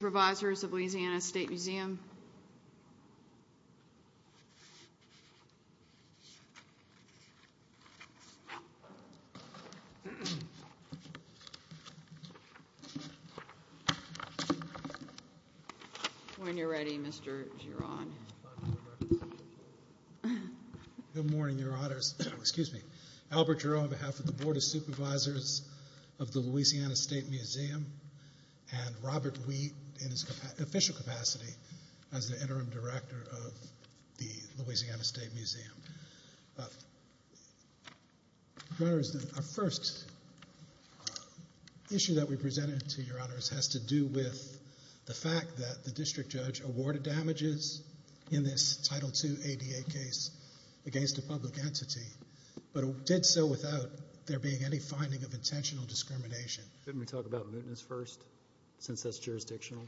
Supervisors of Louisiana State Museum When you're ready, Mr. Giron. Good morning, your honors. Excuse me. Albert Giron, on behalf of the Board of Supervisors of the Louisiana State Museum and Robert Wheat in his official capacity as the interim director of the Louisiana State Museum. Your honors, our first issue that we presented to your honors has to do with the fact that the district judge awarded damages in this Title II ADA case against a public entity, but did so without there being any finding of intentional discrimination. Couldn't we talk about mootness first, since that's jurisdictional?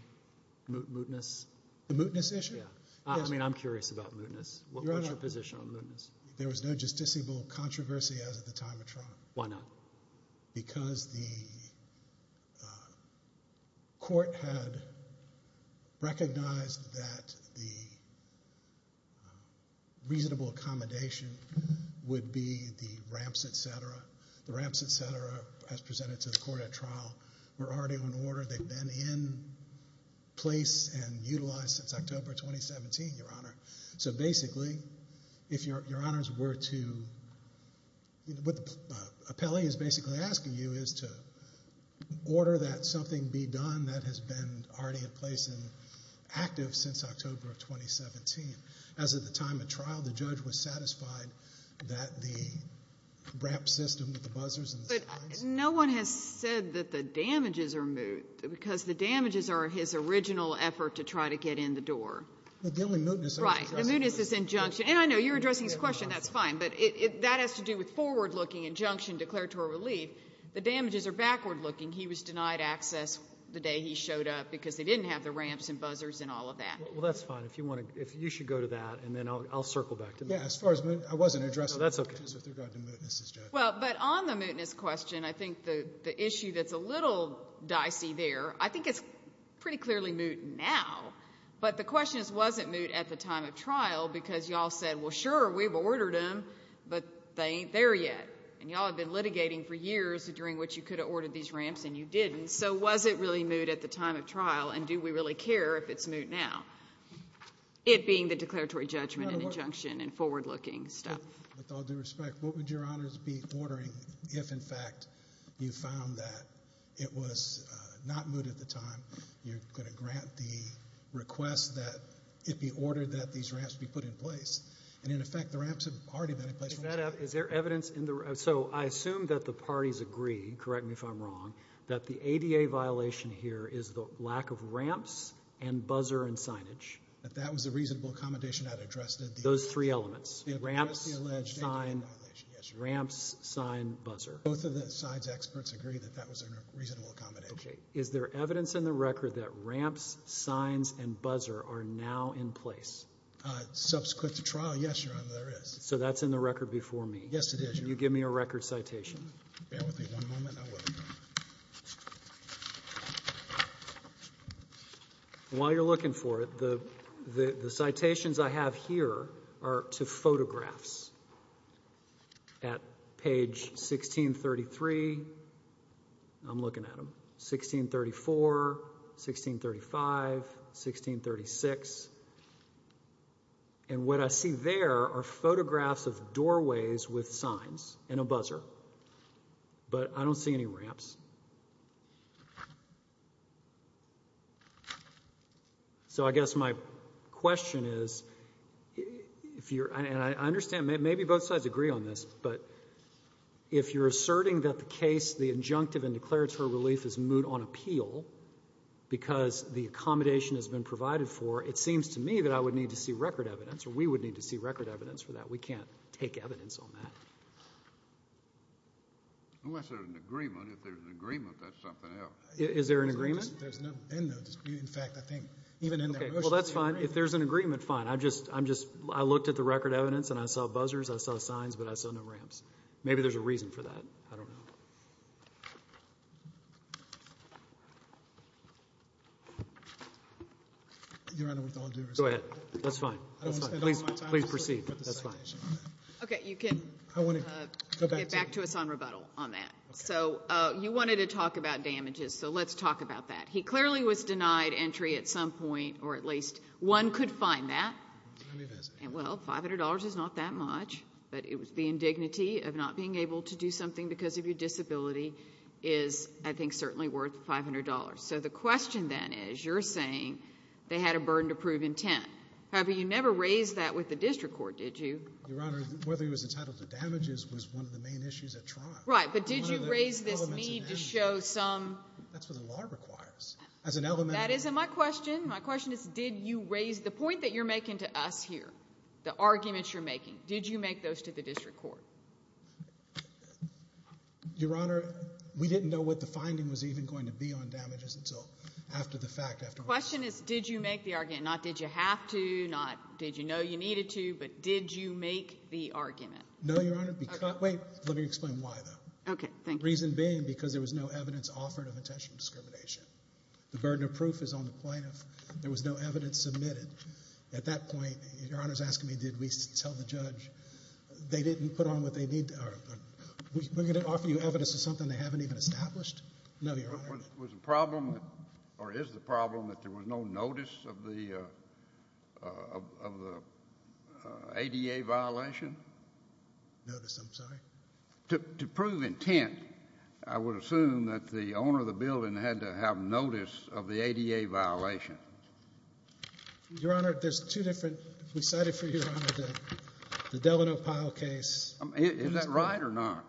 Mootness? The mootness issue? I mean, I'm curious about mootness. What's your position on mootness? There was no justiciable controversy as at the time of trial. Why not? Because the court had recognized that the reasonable accommodation would be the ramps, etc. The ramps, etc., as presented to the court at trial, were already in order. They've been in place and utilized since October 2017, your honor. So basically, if your honors were to—what the appellee is basically asking you is to order that something be done that has been already in place and active since October of 2017. As at the time of trial, the judge was satisfied that the ramp system with the buzzers and the signs— But no one has said that the damages are moot, because the damages are his original effort to try to get in the door. The only mootness— Right. The mootness is injunction. And I know you're addressing his question. That's fine. But that has to do with forward-looking injunction declaratory relief. The damages are backward-looking. He was denied access the day he showed up because they didn't have the ramps and buzzers and all of that. Well, that's fine. If you want to—if you should go to that, and then I'll circle back to that. Yeah. As far as—I wasn't addressing— No, that's okay. —the damages with regard to mootness, Judge. Well, but on the mootness question, I think the issue that's a little dicey there, I think it's pretty clearly moot now. But the question is, was it moot at the time of trial? Because you all said, well, sure, we've ordered them, but they ain't there yet. And you all have been litigating for years during which you could have ordered these ramps, and you didn't. So was it really moot at the time of trial, and do we really care if it's moot now? It being the declaratory judgment and injunction and forward-looking stuff. With all due respect, what would Your Honors be ordering if, in fact, you found that it was not moot at the time? You're going to grant the request that it be ordered that these ramps be put in place. And, in effect, the ramps have already been in place from the start. Is there evidence in the—so I assume that the parties agree, correct me if I'm wrong, that the ADA violation here is the lack of ramps and buzzer and signage. That that was a reasonable accommodation that addressed the— Those three elements, ramps, sign, ramps, sign, buzzer. Both of the side's experts agree that that was a reasonable accommodation. Okay. Is there evidence in the record that ramps, signs, and buzzer are now in place? Subsequent to trial, yes, Your Honor, there is. So that's in the record before me? Yes, it is, Your Honor. Can you give me a record citation? Bear with me one moment. I will. While you're looking for it, the citations I have here are to photographs. At page 1633, I'm looking at them, 1634, 1635, 1636. And what I see there are photographs of doorways with signs and a buzzer. But I don't see any ramps. So I guess my question is, if you're — and I understand maybe both sides agree on this, but if you're asserting that the case, the injunctive and declaratory relief, is moot on appeal because the accommodation has been provided for, it seems to me that I would need to see record evidence, or we would need to see record evidence for that. We can't take evidence on that. Unless there's an agreement. If there's an agreement, that's something else. Is there an agreement? There's no end to it. In fact, I think even in that motion — Okay, well, that's fine. If there's an agreement, fine. I'm just — I looked at the record evidence, and I saw buzzers. I saw signs, but I saw no ramps. Maybe there's a reason for that. I don't know. Your Honor, with all due respect — Go ahead. That's fine. That's fine. I don't want to spend all my time — Please proceed. That's fine. Okay, you can get back to us on rebuttal on that. So you wanted to talk about damages, so let's talk about that. He clearly was denied entry at some point, or at least one could find that. Well, $500 is not that much, but the indignity of not being able to do something because of your disability is, I think, certainly worth $500. So the question then is, you're saying they had a burden to prove intent. However, you never raised that with the district court, did you? Your Honor, whether he was entitled to damages was one of the main issues at trial. Right, but did you raise this need to show some — That's what the law requires. As an elementary — That isn't my question. My question is, did you raise — the point that you're making to us here, the arguments you're making, did you make those to the district court? Your Honor, we didn't know what the finding was even going to be on damages until after the fact. The question is, did you make the argument, not did you have to, not did you know you needed to, but did you make the argument? No, Your Honor, because — wait, let me explain why, though. Okay, thank you. The reason being because there was no evidence offered of intentional discrimination. The burden of proof is on the plaintiff. There was no evidence submitted. At that point, Your Honor's asking me, did we tell the judge they didn't put on what they need to — or we're going to offer you evidence of something they haven't even established? No, Your Honor. Was the problem or is the problem that there was no notice of the ADA violation? Notice, I'm sorry? To prove intent, I would assume that the owner of the building had to have notice of the ADA violation. Your Honor, there's two different — we cited for you, Your Honor, the Delano Pyle case. Is that right or not?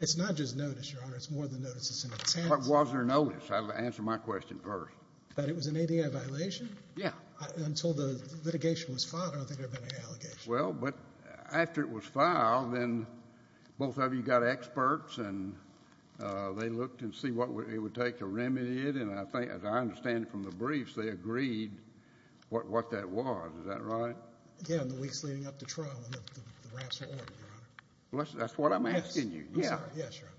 It's not just notice, Your Honor. It's more than notice. What was their notice? Answer my question first. That it was an ADA violation? Yeah. Until the litigation was filed, I don't think there had been any allegations. Well, but after it was filed, then both of you got experts, and they looked and see what it would take to remedy it. And I think, as I understand it from the briefs, they agreed what that was. Is that right? Yeah, in the weeks leading up to trial when the raps were ordered, Your Honor. That's what I'm asking you. Yes. Yes, Your Honor.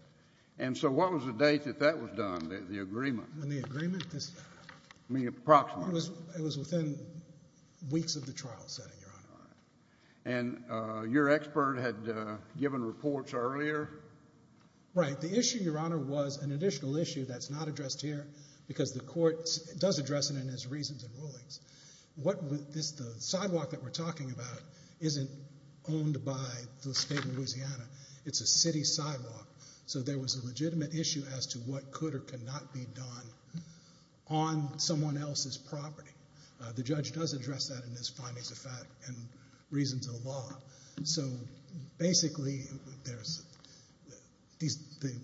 And so what was the date that that was done, the agreement? The agreement? Approximately. It was within weeks of the trial setting, Your Honor. All right. And your expert had given reports earlier? Right. The issue, Your Honor, was an additional issue that's not addressed here because the court does address it in its reasons and rulings. The sidewalk that we're talking about isn't owned by the state of Louisiana. It's a city sidewalk. So there was a legitimate issue as to what could or could not be done on someone else's property. The judge does address that in his findings of fact and reasons of the law. So, basically,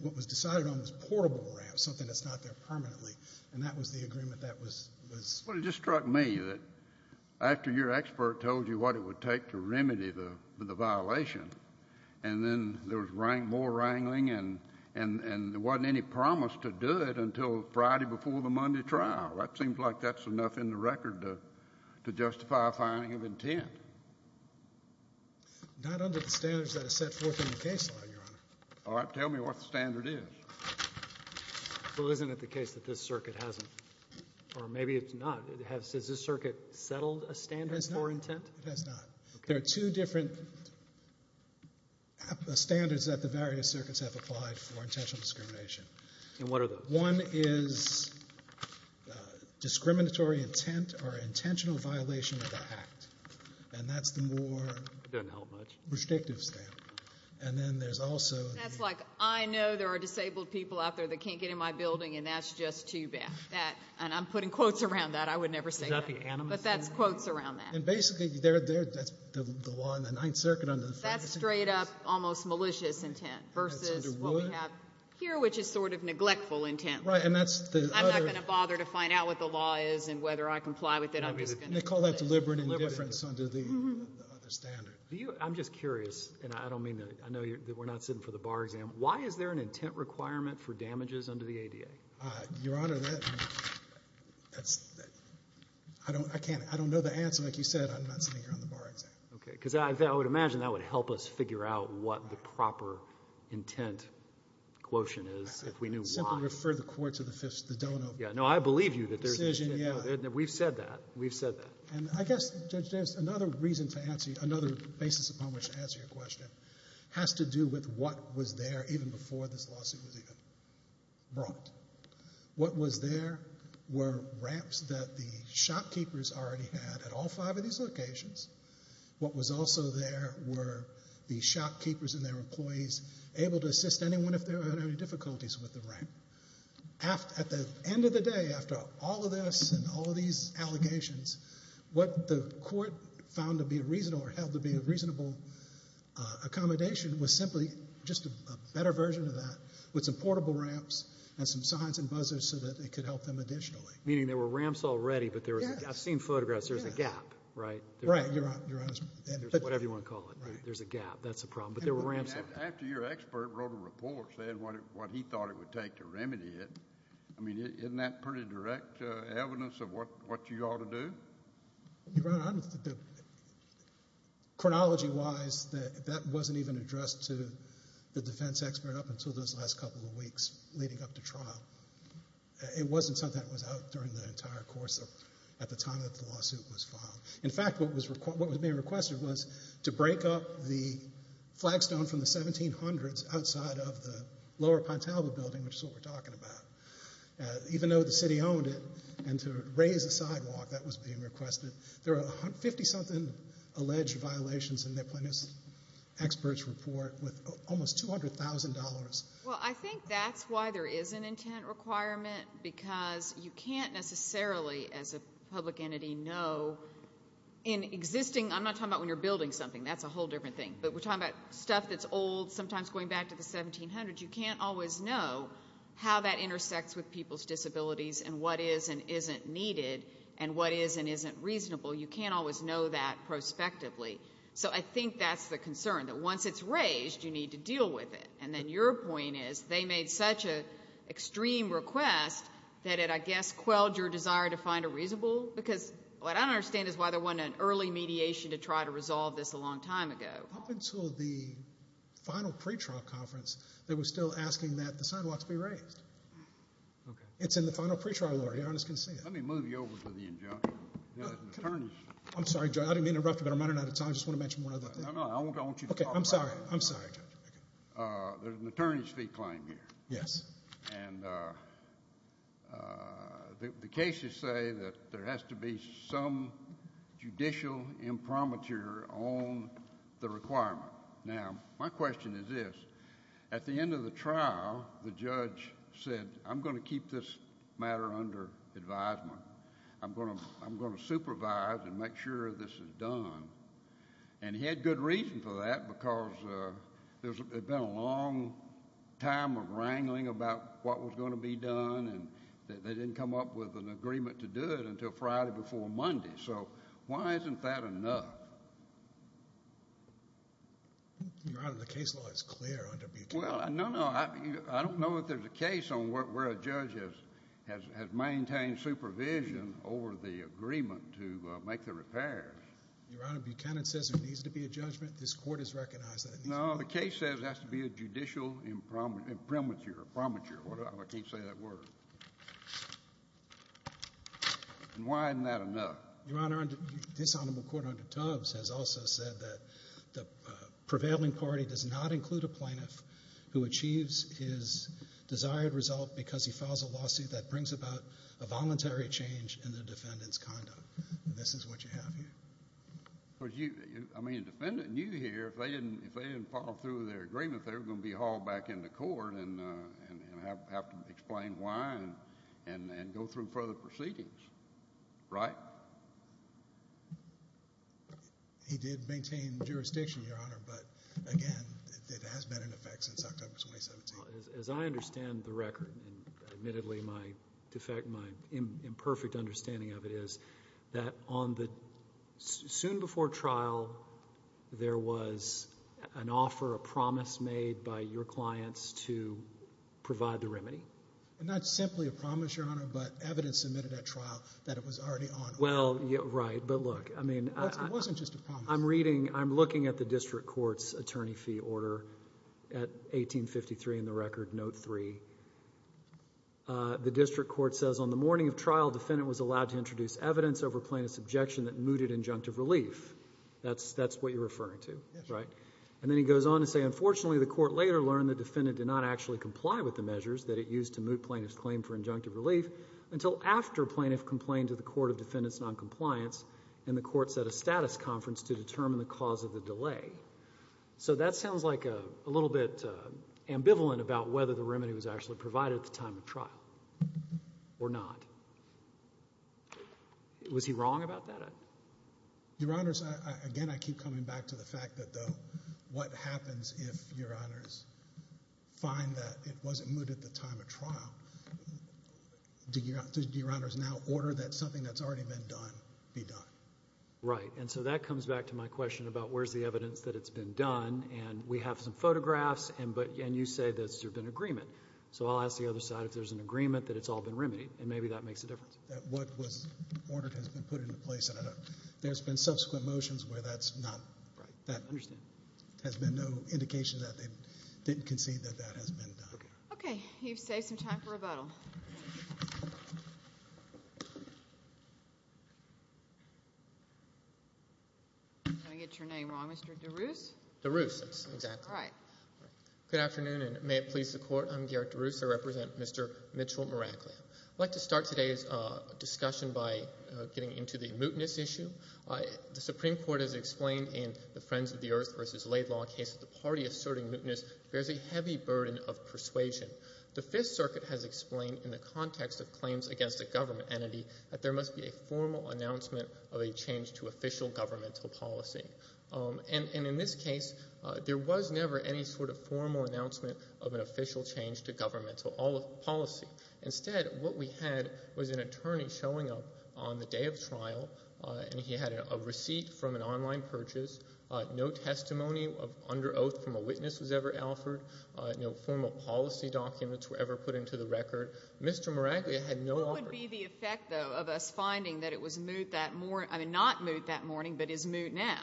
what was decided on was a portable ramp, something that's not there permanently, and that was the agreement that was ---- Well, it just struck me that after your expert told you what it would take to remedy the violation and then there was more wrangling and there wasn't any promise to do it until Friday before the Monday trial. It seems like that's enough in the record to justify a finding of intent. Not under the standards that are set forth in the case law, Your Honor. All right. Tell me what the standard is. Well, isn't it the case that this circuit hasn't? Or maybe it's not. Has this circuit settled a standard for intent? It has not. There are two different standards that the various circuits have applied for intentional discrimination. And what are those? One is discriminatory intent or intentional violation of the act. And that's the more ---- It doesn't help much. ---- restrictive standard. And then there's also ---- That's like, I know there are disabled people out there that can't get in my building and that's just too bad. And I'm putting quotes around that. I would never say that. Is that the animus? But that's quotes around that. And basically, that's the law in the Ninth Circuit under the Ferguson case. That's straight-up almost malicious intent versus what we have here, which is sort of neglectful intent. Right. And that's the other ---- I'm not going to bother to find out what the law is and whether I comply with it. I'm just going to ---- They call that deliberate indifference under the other standard. I'm just curious, and I don't mean to ---- I know we're not sitting for the bar exam. Why is there an intent requirement for damages under the ADA? Your Honor, that's ---- I don't know the answer. Like you said, I'm not sitting here on the bar exam. Okay. Because I would imagine that would help us figure out what the proper intent quotient is if we knew why. Simply refer the court to the donor. Yeah. No, I believe you that there's ---- Decision, yeah. We've said that. We've said that. And I guess, Judge Davis, another reason to answer you, another basis upon which to answer your question, has to do with what was there even before this lawsuit was even brought. What was there were ramps that the shopkeepers already had at all five of these locations. What was also there were the shopkeepers and their employees able to assist anyone if they were having any difficulties with the ramp. At the end of the day, after all of this and all of these allegations, what the court found to be a reasonable or held to be a reasonable accommodation was simply just a better version of that with some portable ramps and some signs and buzzers so that it could help them additionally. Meaning there were ramps already, but there was a gap. I've seen photographs. There's a gap, right? Right. Your Honor. Whatever you want to call it. There's a gap. That's a problem. But there were ramps. After your expert wrote a report saying what he thought it would take to remedy it, isn't that pretty direct evidence of what you ought to do? Your Honor, chronology-wise, that wasn't even addressed to the defense expert up until those last couple of weeks leading up to trial. It wasn't something that was out during the entire course at the time that the lawsuit was filed. In fact, what was being requested was to break up the flagstone from the 1700s outside of the lower Pontalva building, which is what we're talking about. Even though the city owned it, and to raise a sidewalk, that was being requested. There are 50-something alleged violations in the plaintiff's expert's report with almost $200,000. Well, I think that's why there is an intent requirement, because you can't necessarily, as a public entity, know in existing... I'm not talking about when you're building something. That's a whole different thing. But we're talking about stuff that's old, sometimes going back to the 1700s. You can't always know how that intersects with people's disabilities and what is and isn't needed and what is and isn't reasonable. You can't always know that prospectively. So I think that's the concern, that once it's raised, you need to deal with it. And then your point is they made such an extreme request that it, I guess, quelled your desire to find a reasonable... Because what I don't understand is why there wasn't an early mediation to try to resolve this a long time ago. Up until the final pretrial conference, they were still asking that the sidewalks be raised. It's in the final pretrial order. Your Honor is going to see it. Let me move you over to the injunction. I'm sorry, Judge. I didn't mean to interrupt you, but I'm running out of time. I just want to mention one other thing. No, no. I want you to talk about it. Okay. I'm sorry. I'm sorry, Judge. There's an attorney's fee claim here. Yes. And the cases say that there has to be some judicial imprimatur on the requirement. Now, my question is this. At the end of the trial, the judge said, I'm going to keep this matter under advisement. I'm going to supervise and make sure this is done. And he had good reason for that because there had been a long time of wrangling about what was going to be done, and they didn't come up with an agreement to do it until Friday before Monday. So why isn't that enough? Your Honor, the case law is clear under B2. Well, no, no. I don't know if there's a case on where a judge has maintained supervision over the agreement to make the repairs. Your Honor, Buchanan says there needs to be a judgment. This court has recognized that. No, the case says there has to be a judicial imprimatur. I can't say that word. And why isn't that enough? Your Honor, this honorable court under Tubbs has also said that the prevailing party does not include a plaintiff who achieves his desired result because he files a lawsuit that brings about a voluntary change in the defendant's conduct. This is what you have here. I mean, the defendant knew here if they didn't follow through with their agreement, they were going to be hauled back into court and have to explain why and go through further proceedings, right? He did maintain jurisdiction, Your Honor, but, again, it has been in effect since October 2017. As I understand the record, and admittedly my imperfect understanding of it is that soon before trial there was an offer, a promise made by your clients to provide the remedy. Not simply a promise, Your Honor, but evidence submitted at trial that it was already on. Well, right, but look. It wasn't just a promise. I'm looking at the district court's attorney fee order at 1853 in the record, note 3. The district court says, on the morning of trial, the defendant was allowed to introduce evidence over plaintiff's objection that mooted injunctive relief. That's what you're referring to, right? Yes, Your Honor. And then he goes on to say, unfortunately the court later learned the defendant did not actually comply with the measures that it used to moot plaintiff's claim for injunctive relief until after plaintiff complained to the court of defendant's noncompliance and the court set a status conference to determine the cause of the delay. So that sounds like a little bit ambivalent about whether the remedy was actually provided at the time of trial or not. Was he wrong about that? Your Honors, again, I keep coming back to the fact that though what happens if your honors find that it wasn't mooted at the time of trial? Do your honors now order that something that's already been done be done? Right, and so that comes back to my question about where's the evidence that it's been done, and we have some photographs, and you say that there's been agreement. So I'll ask the other side if there's an agreement that it's all been remedied, and maybe that makes a difference. What was ordered has been put into place, and there's been subsequent motions where that's not, that has been no indication that they didn't concede that that has been done. Okay, you've saved some time for rebuttal. Did I get your name wrong, Mr. DeRusse? DeRusse, exactly. All right. Good afternoon, and may it please the Court. I'm Garrett DeRusse. I represent Mr. Mitchell Meraklia. I'd like to start today's discussion by getting into the mootness issue. The Supreme Court has explained in the Friends of the Earth v. Laidlaw case that the party asserting mootness bears a heavy burden of persuasion. The Fifth Circuit has explained in the context of claims against a government entity that there must be a formal announcement of a change to official governmental policy. And in this case, there was never any sort of formal announcement of an official change to governmental policy. Instead, what we had was an attorney showing up on the day of trial, and he had a receipt from an online purchase. No testimony under oath from a witness was ever offered. No formal policy documents were ever put into the record. Mr. Meraklia had no order. What would be the effect, though, of us finding that it was moot that morning? I mean, not moot that morning but is moot now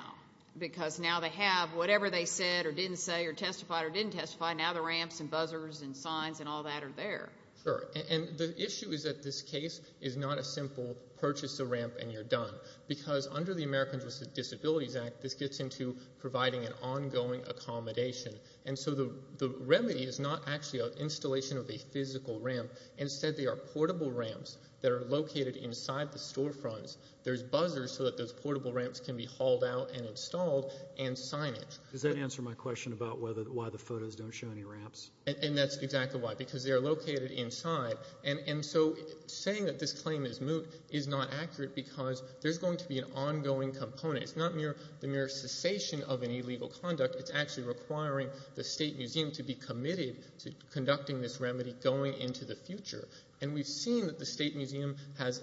because now they have whatever they said or didn't say or testified or didn't testify. Now the ramps and buzzers and signs and all that are there. Sure, and the issue is that this case is not a simple purchase a ramp and you're done because under the Americans with Disabilities Act, this gets into providing an ongoing accommodation. And so the remedy is not actually an installation of a physical ramp. Instead, they are portable ramps that are located inside the storefronts. There's buzzers so that those portable ramps can be hauled out and installed and signage. Does that answer my question about why the photos don't show any ramps? And that's exactly why, because they are located inside. And so saying that this claim is moot is not accurate because there's going to be an ongoing component. It's not the mere cessation of an illegal conduct. It's actually requiring the state museum to be committed to conducting this remedy going into the future. And we've seen that the state museum has,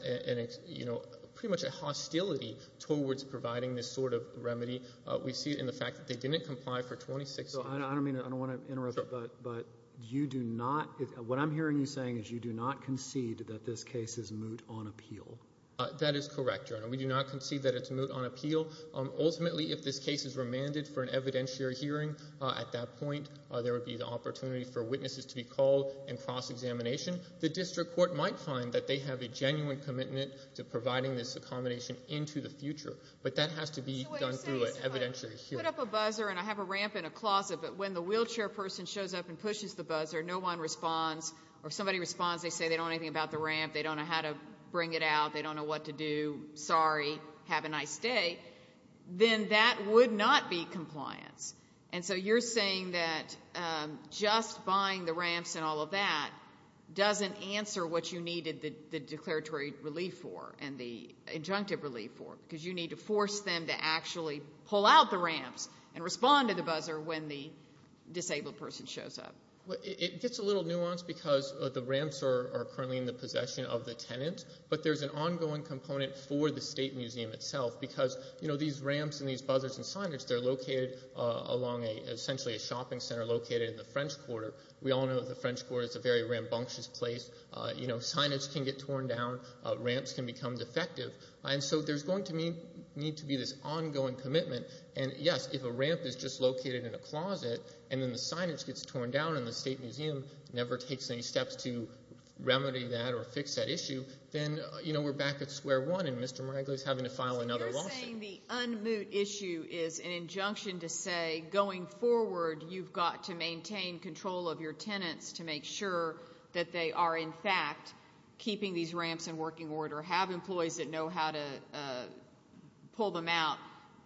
you know, pretty much a hostility towards providing this sort of remedy. We see it in the fact that they didn't comply for 26 years. I don't mean to – I don't want to interrupt, but you do not – what I'm hearing you saying is you do not concede that this case is moot on appeal. That is correct, Your Honor. We do not concede that it's moot on appeal. Ultimately, if this case is remanded for an evidentiary hearing at that point, there would be the opportunity for witnesses to be called and cross-examination. The district court might find that they have a genuine commitment to providing this accommodation into the future, but that has to be done through an evidentiary hearing. So what you're saying is if I put up a buzzer and I have a ramp in a closet, but when the wheelchair person shows up and pushes the buzzer, no one responds or somebody responds, they say they don't know anything about the ramp, they don't know how to bring it out, they don't know what to do, sorry, have a nice day, then that would not be compliance. And so you're saying that just buying the ramps and all of that doesn't answer what you needed the declaratory relief for and the injunctive relief for, because you need to force them to actually pull out the ramps and respond to the buzzer when the disabled person shows up. It gets a little nuanced because the ramps are currently in the possession of the tenant, but there's an ongoing component for the State Museum itself because these ramps and these buzzers and signage, they're located along essentially a shopping center located in the French Quarter. We all know the French Quarter is a very rambunctious place. Signage can get torn down, ramps can become defective, and so there's going to need to be this ongoing commitment. And, yes, if a ramp is just located in a closet and then the signage gets torn down and the State Museum never takes any steps to remedy that or fix that issue, then we're back at square one and Mr. Meragli is having to file another lawsuit. So you're saying the unmoot issue is an injunction to say going forward you've got to maintain control of your tenants to make sure that they are in fact keeping these ramps in working order, have employees that know how to pull them out,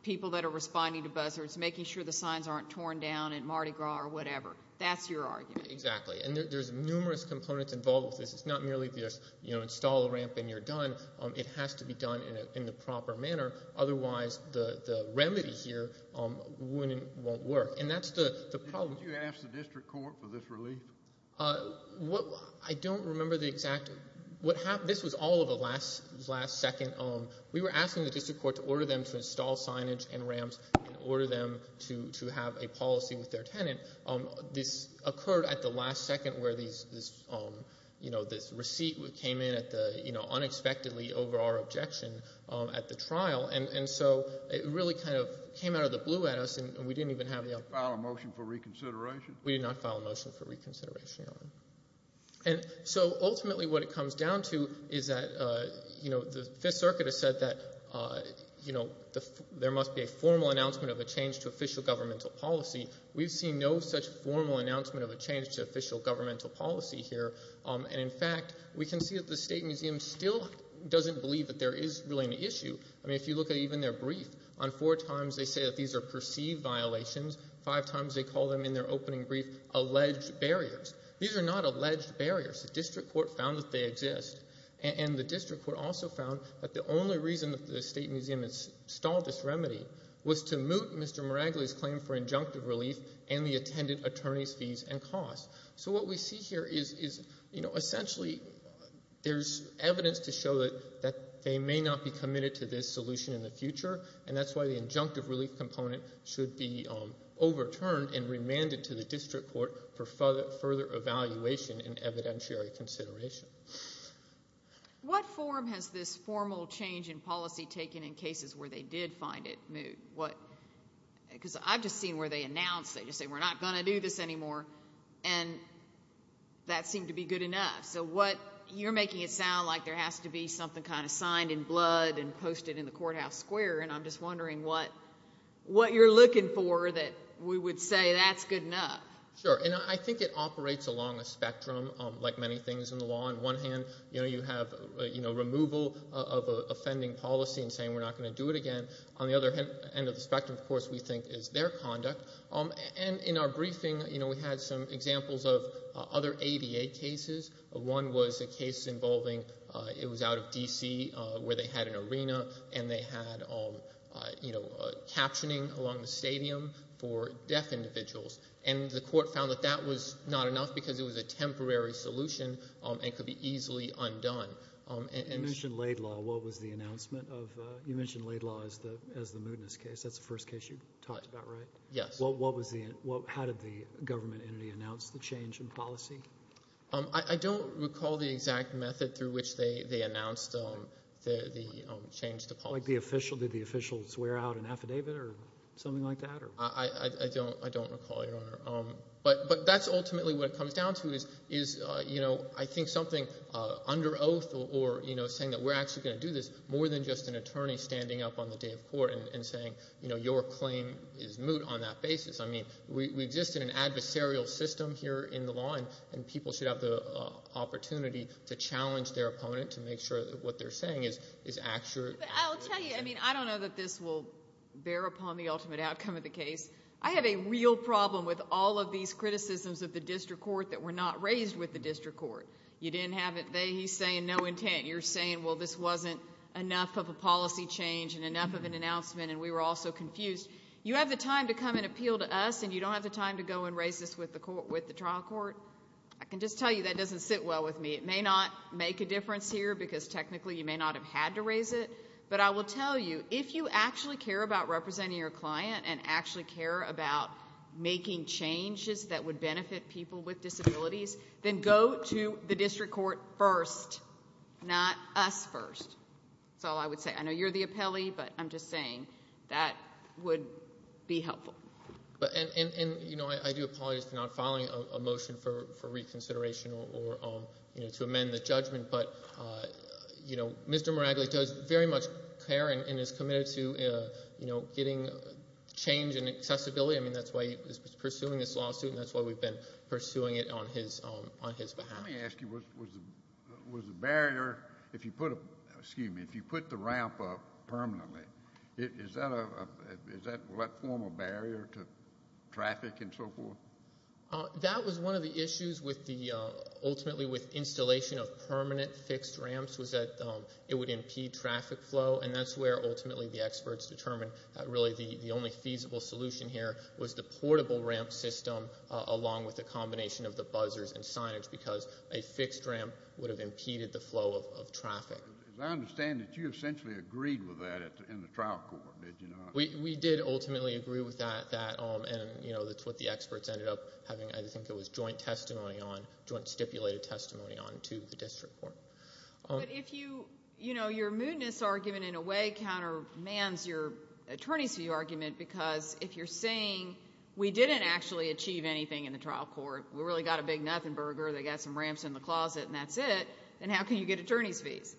people that are responding to buzzers, making sure the signs aren't torn down at Mardi Gras or whatever. That's your argument. Exactly, and there's numerous components involved with this. It's not merely just install a ramp and you're done. It has to be done in the proper manner. Otherwise, the remedy here won't work, and that's the problem. Did you ask the district court for this relief? I don't remember the exact—this was all of the last second. We were asking the district court to order them to install signage and ramps and order them to have a policy with their tenant. This occurred at the last second where this receipt came in unexpectedly over our objection at the trial, and so it really kind of came out of the blue at us and we didn't even have the opportunity. Did you file a motion for reconsideration? We did not file a motion for reconsideration, Your Honor. So ultimately what it comes down to is that the Fifth Circuit has said that there must be a formal announcement of a change to official governmental policy. We've seen no such formal announcement of a change to official governmental policy here, and, in fact, we can see that the State Museum still doesn't believe that there is really an issue. I mean, if you look at even their brief, on four times they say that these are perceived violations, five times they call them in their opening brief alleged barriers. These are not alleged barriers. The district court found that they exist, and the district court also found that the only reason that the State Museum installed this remedy was to moot Mr. Miragli's claim for injunctive relief and the attendant attorney's fees and costs. So what we see here is, you know, essentially there's evidence to show that they may not be committed to this solution in the future, and that's why the injunctive relief component should be overturned and remanded to the district court for further evaluation and evidentiary consideration. What form has this formal change in policy taken in cases where they did find it moot? Because I've just seen where they announce, they just say we're not going to do this anymore, and that seemed to be good enough. So you're making it sound like there has to be something kind of signed in blood and posted in the courthouse square, and I'm just wondering what you're looking for that we would say that's good enough. Sure, and I think it operates along a spectrum, like many things in the law. On one hand, you know, you have removal of an offending policy and saying we're not going to do it again. On the other end of the spectrum, of course, we think is their conduct. And in our briefing, you know, we had some examples of other ADA cases. One was a case involving, it was out of D.C. where they had an arena, and they had, you know, captioning along the stadium for deaf individuals. And the court found that that was not enough because it was a temporary solution and could be easily undone. You mentioned Laid Law. What was the announcement of, you mentioned Laid Law as the mootness case. That's the first case you talked about, right? Yes. What was the, how did the government entity announce the change in policy? I don't recall the exact method through which they announced the change to policy. Like the official, did the official swear out an affidavit or something like that? I don't recall, Your Honor. But that's ultimately what it comes down to is, you know, I think something under oath or, you know, saying that we're actually going to do this more than just an attorney standing up on the day of court and saying, you know, your claim is moot on that basis. I mean, we exist in an adversarial system here in the law, and people should have the opportunity to challenge their opponent to make sure that what they're saying is accurate. I'll tell you, I mean, I don't know that this will bear upon the ultimate outcome of the case. I have a real problem with all of these criticisms of the district court that were not raised with the district court. You didn't have it there. He's saying no intent. You're saying, well, this wasn't enough of a policy change and enough of an announcement, and we were all so confused. You have the time to come and appeal to us, and you don't have the time to go and raise this with the trial court? I can just tell you that doesn't sit well with me. It may not make a difference here because technically you may not have had to raise it, but I will tell you, if you actually care about representing your client and actually care about making changes that would benefit people with disabilities, then go to the district court first, not us first. That's all I would say. I know you're the appellee, but I'm just saying that would be helpful. I do apologize for not filing a motion for reconsideration or to amend the judgment, but Mr. Meragli does very much care and is committed to getting change in accessibility. That's why he's pursuing this lawsuit, and that's why we've been pursuing it on his behalf. Let me ask you, was the barrier, if you put the ramp up permanently, will that form a barrier to traffic and so forth? That was one of the issues ultimately with installation of permanent fixed ramps was that it would impede traffic flow, and that's where ultimately the experts determined that really the only feasible solution here was the portable ramp system along with a combination of the buzzers and signage because a fixed ramp would have impeded the flow of traffic. As I understand it, you essentially agreed with that in the trial court, did you not? We did ultimately agree with that, and that's what the experts ended up having, I think it was joint testimony on, joint stipulated testimony on to the district court. But your mootness argument in a way countermands your attorney's view argument because if you're saying we didn't actually achieve anything in the trial court, we really got a big nothing burger, they got some ramps in the closet and that's it, then how can you get attorney's fees?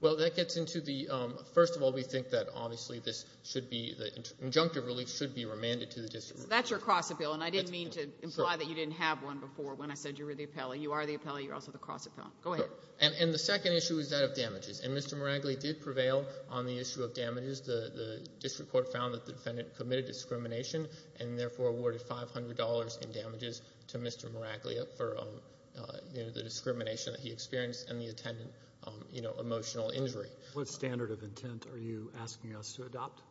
Well, that gets into the first of all, we think that obviously this should be, the injunctive relief should be remanded to the district. So that's your cross-appellate, and I didn't mean to imply that you didn't have one before when I said you were the appellee. You are the appellee, you're also the cross-appellate. Go ahead. And the second issue is that of damages, and Mr. Meraglia did prevail on the issue of damages. The district court found that the defendant committed discrimination and therefore awarded $500 in damages to Mr. Meraglia for the discrimination that he experienced and the attendant emotional injury. What standard of intent are you asking us to adopt?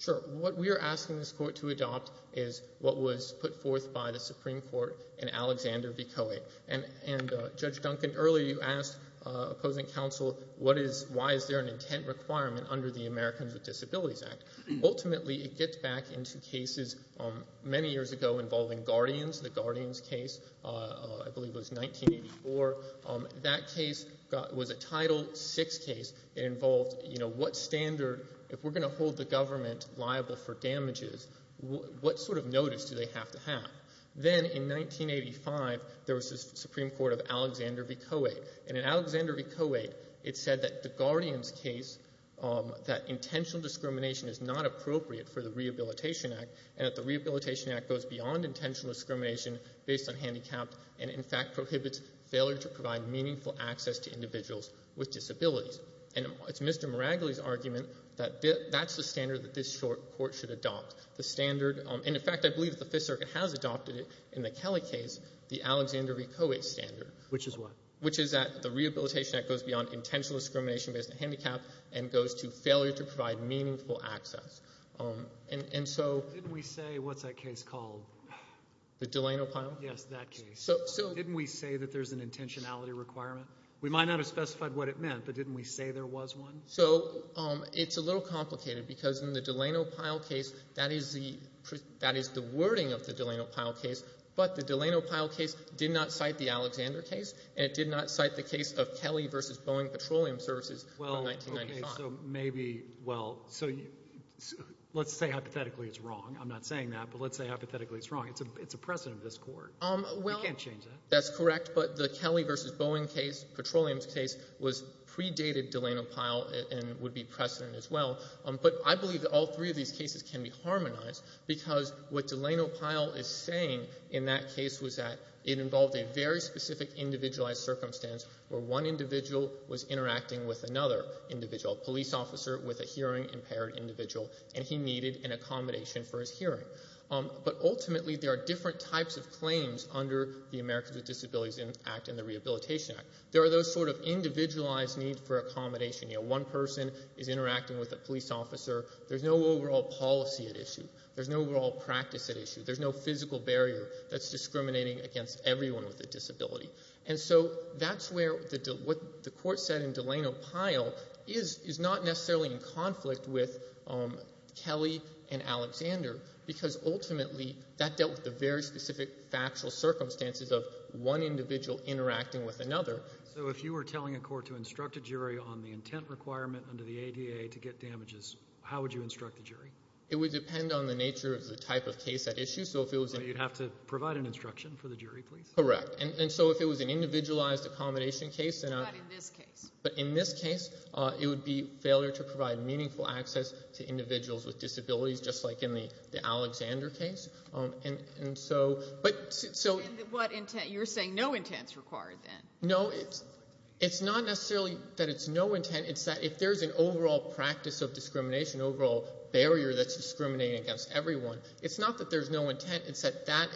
Sure. What we are asking this court to adopt is what was put forth by the Supreme Court in Alexander v. Coie. And Judge Duncan, earlier you asked opposing counsel why is there an intent requirement under the Americans with Disabilities Act. Ultimately, it gets back into cases many years ago involving guardians, the guardians case. I believe it was 1984. That case was a Title VI case. It involved, you know, what standard, if we're going to hold the government liable for damages, what sort of notice do they have to have? Then in 1985, there was the Supreme Court of Alexander v. Coie. And in Alexander v. Coie, it said that the guardians case, that intentional discrimination is not appropriate for the Rehabilitation Act and that the Rehabilitation Act goes beyond intentional discrimination based on handicapped and in fact prohibits failure to provide meaningful access to individuals with disabilities. And it's Mr. Meraglia's argument that that's the standard that this court should adopt. The standard, and in fact, I believe that the Fifth Circuit has adopted it in the Kelly case, the Alexander v. Coie standard. Which is what? Which is that the Rehabilitation Act goes beyond intentional discrimination based on handicapped and goes to failure to provide meaningful access. Didn't we say what's that case called? The Delano Pyle? Yes, that case. Didn't we say that there's an intentionality requirement? We might not have specified what it meant, but didn't we say there was one? It's a little complicated because in the Delano Pyle case, that is the wording of the Delano Pyle case, but the Delano Pyle case did not cite the Alexander case and it did not cite the case of Kelly v. Boeing Petroleum Services from 1995. So maybe, well, let's say hypothetically it's wrong. I'm not saying that, but let's say hypothetically it's wrong. It's a precedent of this court. You can't change that. That's correct, but the Kelly v. Boeing case, Petroleum's case, predated Delano Pyle and would be precedent as well. But I believe that all three of these cases can be harmonized because what Delano Pyle is saying in that case was that it involved a very specific individualized circumstance where one individual was interacting with another individual, a police officer with a hearing-impaired individual, and he needed an accommodation for his hearing. But ultimately there are different types of claims under the Americans with Disabilities Act and the Rehabilitation Act. There are those sort of individualized needs for accommodation. You know, one person is interacting with a police officer. There's no overall policy at issue. There's no overall practice at issue. There's no physical barrier that's discriminating against everyone with a disability. And so that's where what the court said in Delano Pyle is not necessarily in conflict with Kelly and Alexander because ultimately that dealt with the very specific factual circumstances of one individual interacting with another. So if you were telling a court to instruct a jury on the intent requirement under the ADA to get damages, how would you instruct the jury? It would depend on the nature of the type of case at issue. So you'd have to provide an instruction for the jury, please? Correct. And so if it was an individualized accommodation case... What about in this case? But in this case it would be failure to provide meaningful access to individuals with disabilities just like in the Alexander case. And so... And what intent? You're saying no intent is required then? No, it's not necessarily that it's no intent. It's that if there's an overall practice of discrimination, overall barrier that's discriminating against everyone, it's not that there's no intent. It's that that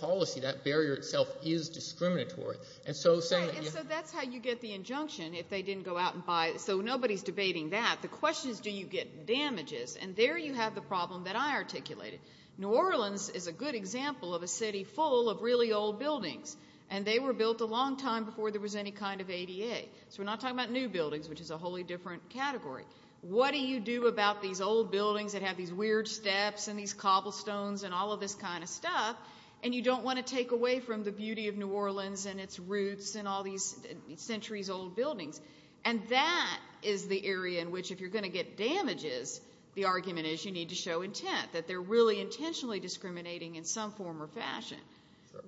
policy, that barrier itself is discriminatory. And so saying... And so that's how you get the injunction if they didn't go out and buy it. So nobody's debating that. The question is do you get damages? And there you have the problem that I articulated. New Orleans is a good example of a city full of really old buildings, and they were built a long time before there was any kind of ADA. So we're not talking about new buildings, which is a wholly different category. What do you do about these old buildings that have these weird steps and these cobblestones and all of this kind of stuff, and you don't want to take away from the beauty of New Orleans and its roots and all these centuries-old buildings? And that is the area in which if you're going to get damages, the argument is you need to show intent, that they're really intentionally discriminating in some form or fashion.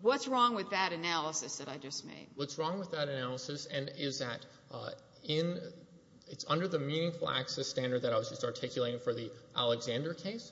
What's wrong with that analysis that I just made? What's wrong with that analysis is that it's under the meaningful access standard that I was just articulating for the Alexander case.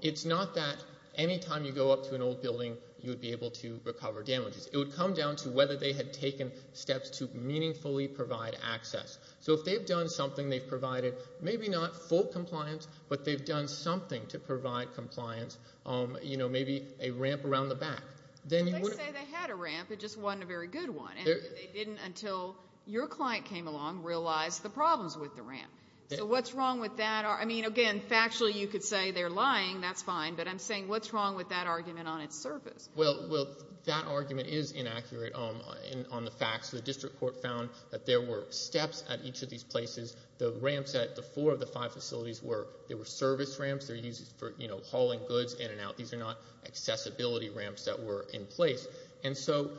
It's not that any time you go up to an old building you would be able to recover damages. It would come down to whether they had taken steps to meaningfully provide access. So if they've done something, they've provided maybe not full compliance, but they've done something to provide compliance, maybe a ramp around the back. If they say they had a ramp, it just wasn't a very good one, and they didn't until your client came along realize the problems with the ramp. So what's wrong with that? I mean, again, factually you could say they're lying, that's fine, but I'm saying what's wrong with that argument on its surface? Well, that argument is inaccurate on the facts. The district court found that there were steps at each of these places. The ramps at the four of the five facilities were service ramps. They're used for hauling goods in and out. These are not accessibility ramps that were in place. And so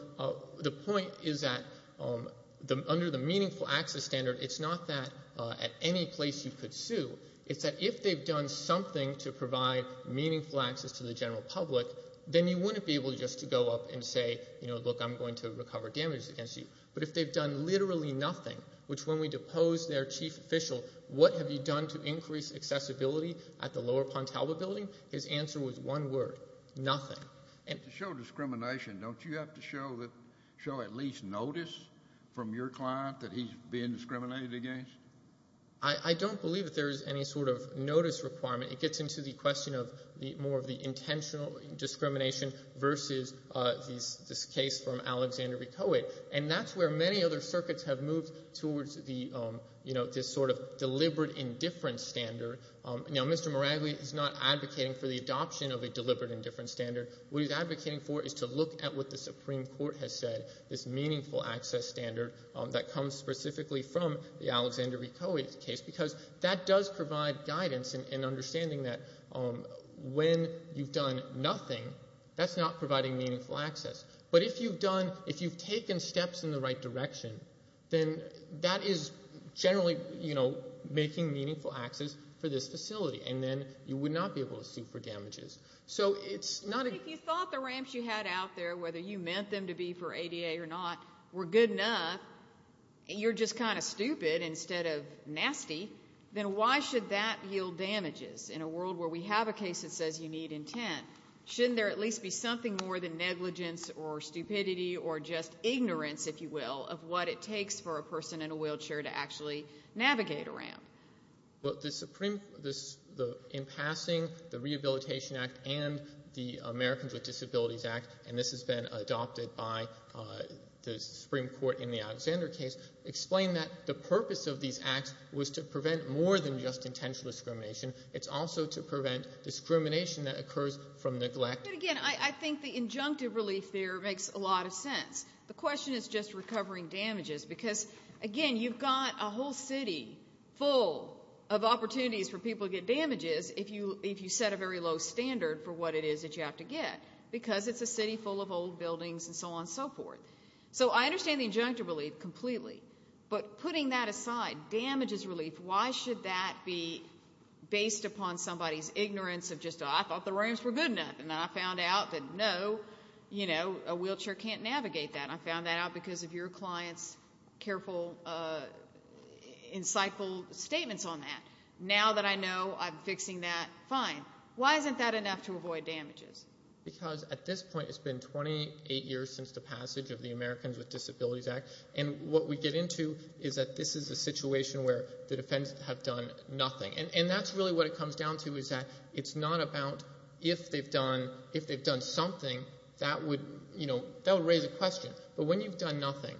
the point is that under the meaningful access standard, it's not that at any place you could sue. It's that if they've done something to provide meaningful access to the general public, then you wouldn't be able just to go up and say, look, I'm going to recover damages against you. But if they've done literally nothing, which when we deposed their chief official, what have you done to increase accessibility at the lower Pontalba building? His answer was one word, nothing. To show discrimination, don't you have to show at least notice from your client that he's being discriminated against? I don't believe that there is any sort of notice requirement. It gets into the question of more of the intentional discrimination versus this case from Alexander Ricohet. And that's where many other circuits have moved towards this sort of deliberate indifference standard. Now, Mr. Miragli is not advocating for the adoption of a deliberate indifference standard. What he's advocating for is to look at what the Supreme Court has said, this meaningful access standard that comes specifically from the Alexander Ricohet case, because that does provide guidance and understanding that when you've done nothing, that's not providing meaningful access. But if you've done, if you've taken steps in the right direction, then that is generally, you know, making meaningful access for this facility, and then you would not be able to sue for damages. So it's not a... If you thought the ramps you had out there, whether you meant them to be for ADA or not, were good enough, and you're just kind of stupid instead of nasty, then why should that yield damages in a world where we have a case that says you need intent? Shouldn't there at least be something more than negligence or stupidity or just ignorance, if you will, of what it takes for a person in a wheelchair to actually navigate a ramp? Well, the Supreme... In passing, the Rehabilitation Act and the Americans with Disabilities Act, and this has been adopted by the Supreme Court in the Alexander case, explain that the purpose of these acts was to prevent more than just intentional discrimination. It's also to prevent discrimination that occurs from neglect. But again, I think the injunctive relief there makes a lot of sense. The question is just recovering damages because, again, you've got a whole city full of opportunities for people to get damages if you set a very low standard for what it is that you have to get because it's a city full of old buildings and so on and so forth. So I understand the injunctive relief completely, but putting that aside, damages relief, why should that be based upon somebody's ignorance of just, oh, I thought the ramps were good enough, and I found out that no, you know, a wheelchair can't navigate that. I found that out because of your client's careful, insightful statements on that. Now that I know I'm fixing that, fine. Why isn't that enough to avoid damages? Because at this point, it's been 28 years since the passage of the Americans with Disabilities Act, and what we get into is that this is a situation where the defendants have done nothing. And that's really what it comes down to is that it's not about if they've done something, that would raise a question. But when you've done nothing.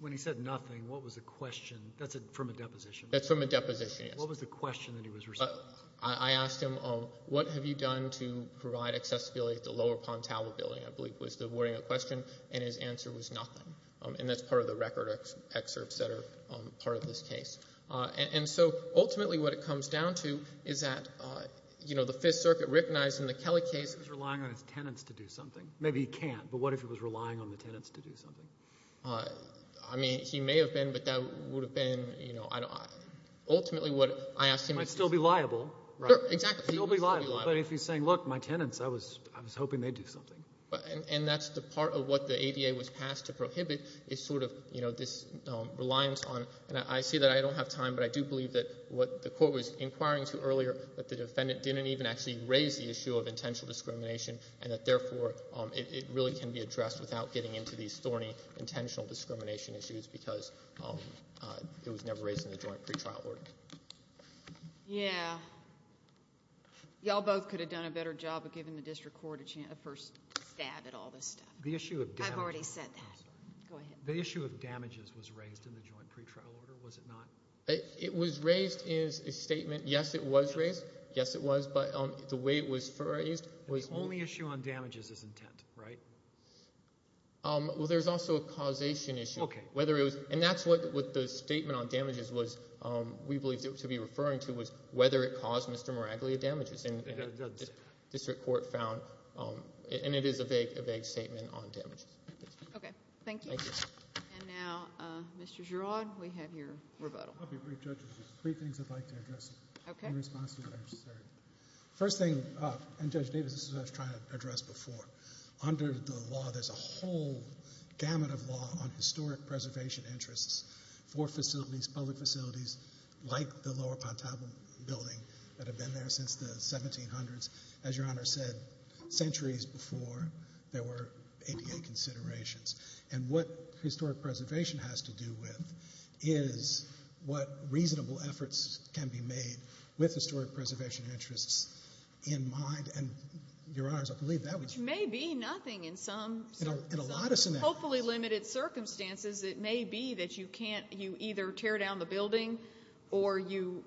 When he said nothing, what was the question? That's from a deposition. That's from a deposition, yes. What was the question that he was responding to? I asked him, oh, what have you done to provide accessibility at the Lower Pontalva building, I believe was the wording of the question, and his answer was nothing. And that's part of the record excerpts that are part of this case. And so ultimately what it comes down to is that, you know, the Fifth Circuit recognized in the Kelly case. He was relying on his tenants to do something. Maybe he can't, but what if he was relying on the tenants to do something? I mean, he may have been, but that would have been, you know, ultimately what I asked him. He might still be liable. Exactly. He might still be liable, but if he's saying, look, my tenants, I was hoping they'd do something. And that's the part of what the ADA was passed to prohibit is sort of, you know, this reliance on, and I see that I don't have time, but I do believe that what the court was inquiring to earlier, that the defendant didn't even actually raise the issue of intentional discrimination and that therefore it really can be addressed without getting into these thorny intentional discrimination issues because it was never raised in the joint pretrial order. Yeah. Y'all both could have done a better job of giving the district court a first stab at all this stuff. I've already said that. Go ahead. The issue of damages was raised in the joint pretrial order, was it not? It was raised as a statement. Yes, it was raised. Yes, it was, but the way it was raised was. The only issue on damages is intent, right? Well, there's also a causation issue. Okay. Whether it was, and that's what the statement on damages was, we believe to be referring to, was whether it caused Mr. Miraglia damages. And the district court found, and it is a vague statement on damages. Okay, thank you. Thank you. And now, Mr. Girod, we have your rebuttal. I'll be brief, Judge. Three things I'd like to address in response to what I just said. First thing, and Judge Davis, this is what I was trying to address before. Under the law, there's a whole gamut of law on historic preservation interests for facilities, public facilities, like the lower Pontabon building that have been there since the 1700s. As Your Honor said, centuries before there were ADA considerations. And what historic preservation has to do with is what reasonable efforts can be made with historic preservation interests in mind. Which may be nothing in some, hopefully, limited circumstances. It may be that you either tear down the building or you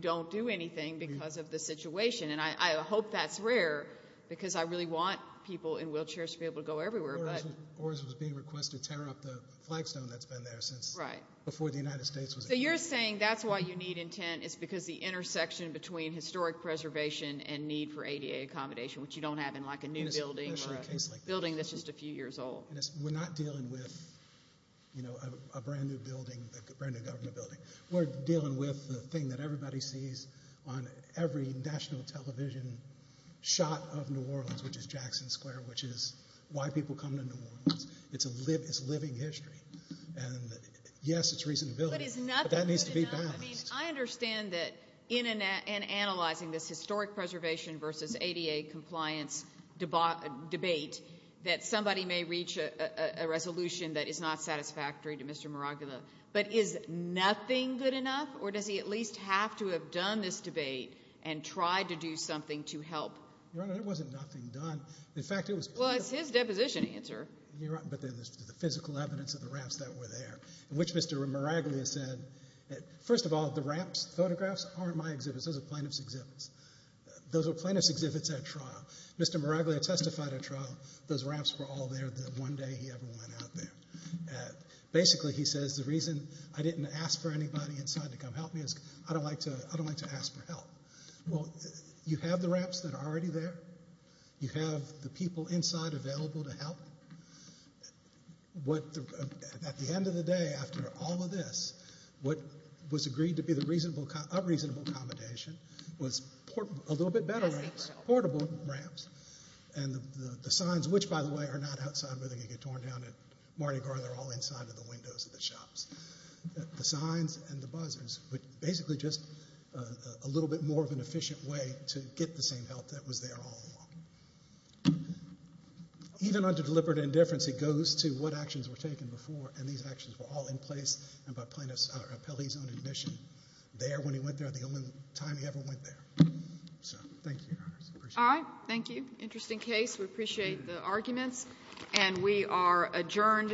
don't do anything because of the situation. And I hope that's rare because I really want people in wheelchairs to be able to go everywhere. OARS was being requested to tear up the flagstone that's been there since before the United States. So you're saying that's why you need intent, it's because the intersection between historic preservation and need for ADA accommodation, which you don't have in like a new building or a building that's just a few years old. We're not dealing with a brand new building, a brand new government building. We're dealing with the thing that everybody sees on every national television shot of New Orleans, which is Jackson Square, which is why people come to New Orleans. It's living history. And yes, it's reasonability, but that needs to be balanced. I mean, I understand that in analyzing this historic preservation versus ADA compliance debate that somebody may reach a resolution that is not satisfactory to Mr. Miraglia, but is nothing good enough or does he at least have to have done this debate and tried to do something to help? Your Honor, there wasn't nothing done. Well, it's his deposition answer. But then there's the physical evidence of the ramps that were there, in which Mr. Miraglia said, first of all, the ramps photographs aren't my exhibits. Those are plaintiff's exhibits. Those are plaintiff's exhibits at trial. Mr. Miraglia testified at trial those ramps were all there the one day he ever went out there. Basically, he says the reason I didn't ask for anybody inside to come help me is I don't like to ask for help. Well, you have the ramps that are already there. You have the people inside available to help. At the end of the day, after all of this, what was agreed to be the unreasonable accommodation was a little bit better ramps, portable ramps, and the signs, which, by the way, are not outside where they can get torn down at Mardi Gras. They're all inside of the windows of the shops. The signs and the buzzers were basically just a little bit more of an efficient way to get the same help that was there all along. Even under deliberate indifference, it goes to what actions were taken before, and these actions were all in place, and by plaintiff's own admission, there when he went there, the only time he ever went there. So thank you, Your Honors. I thank you. Interesting case. We appreciate the arguments, and we are adjourned.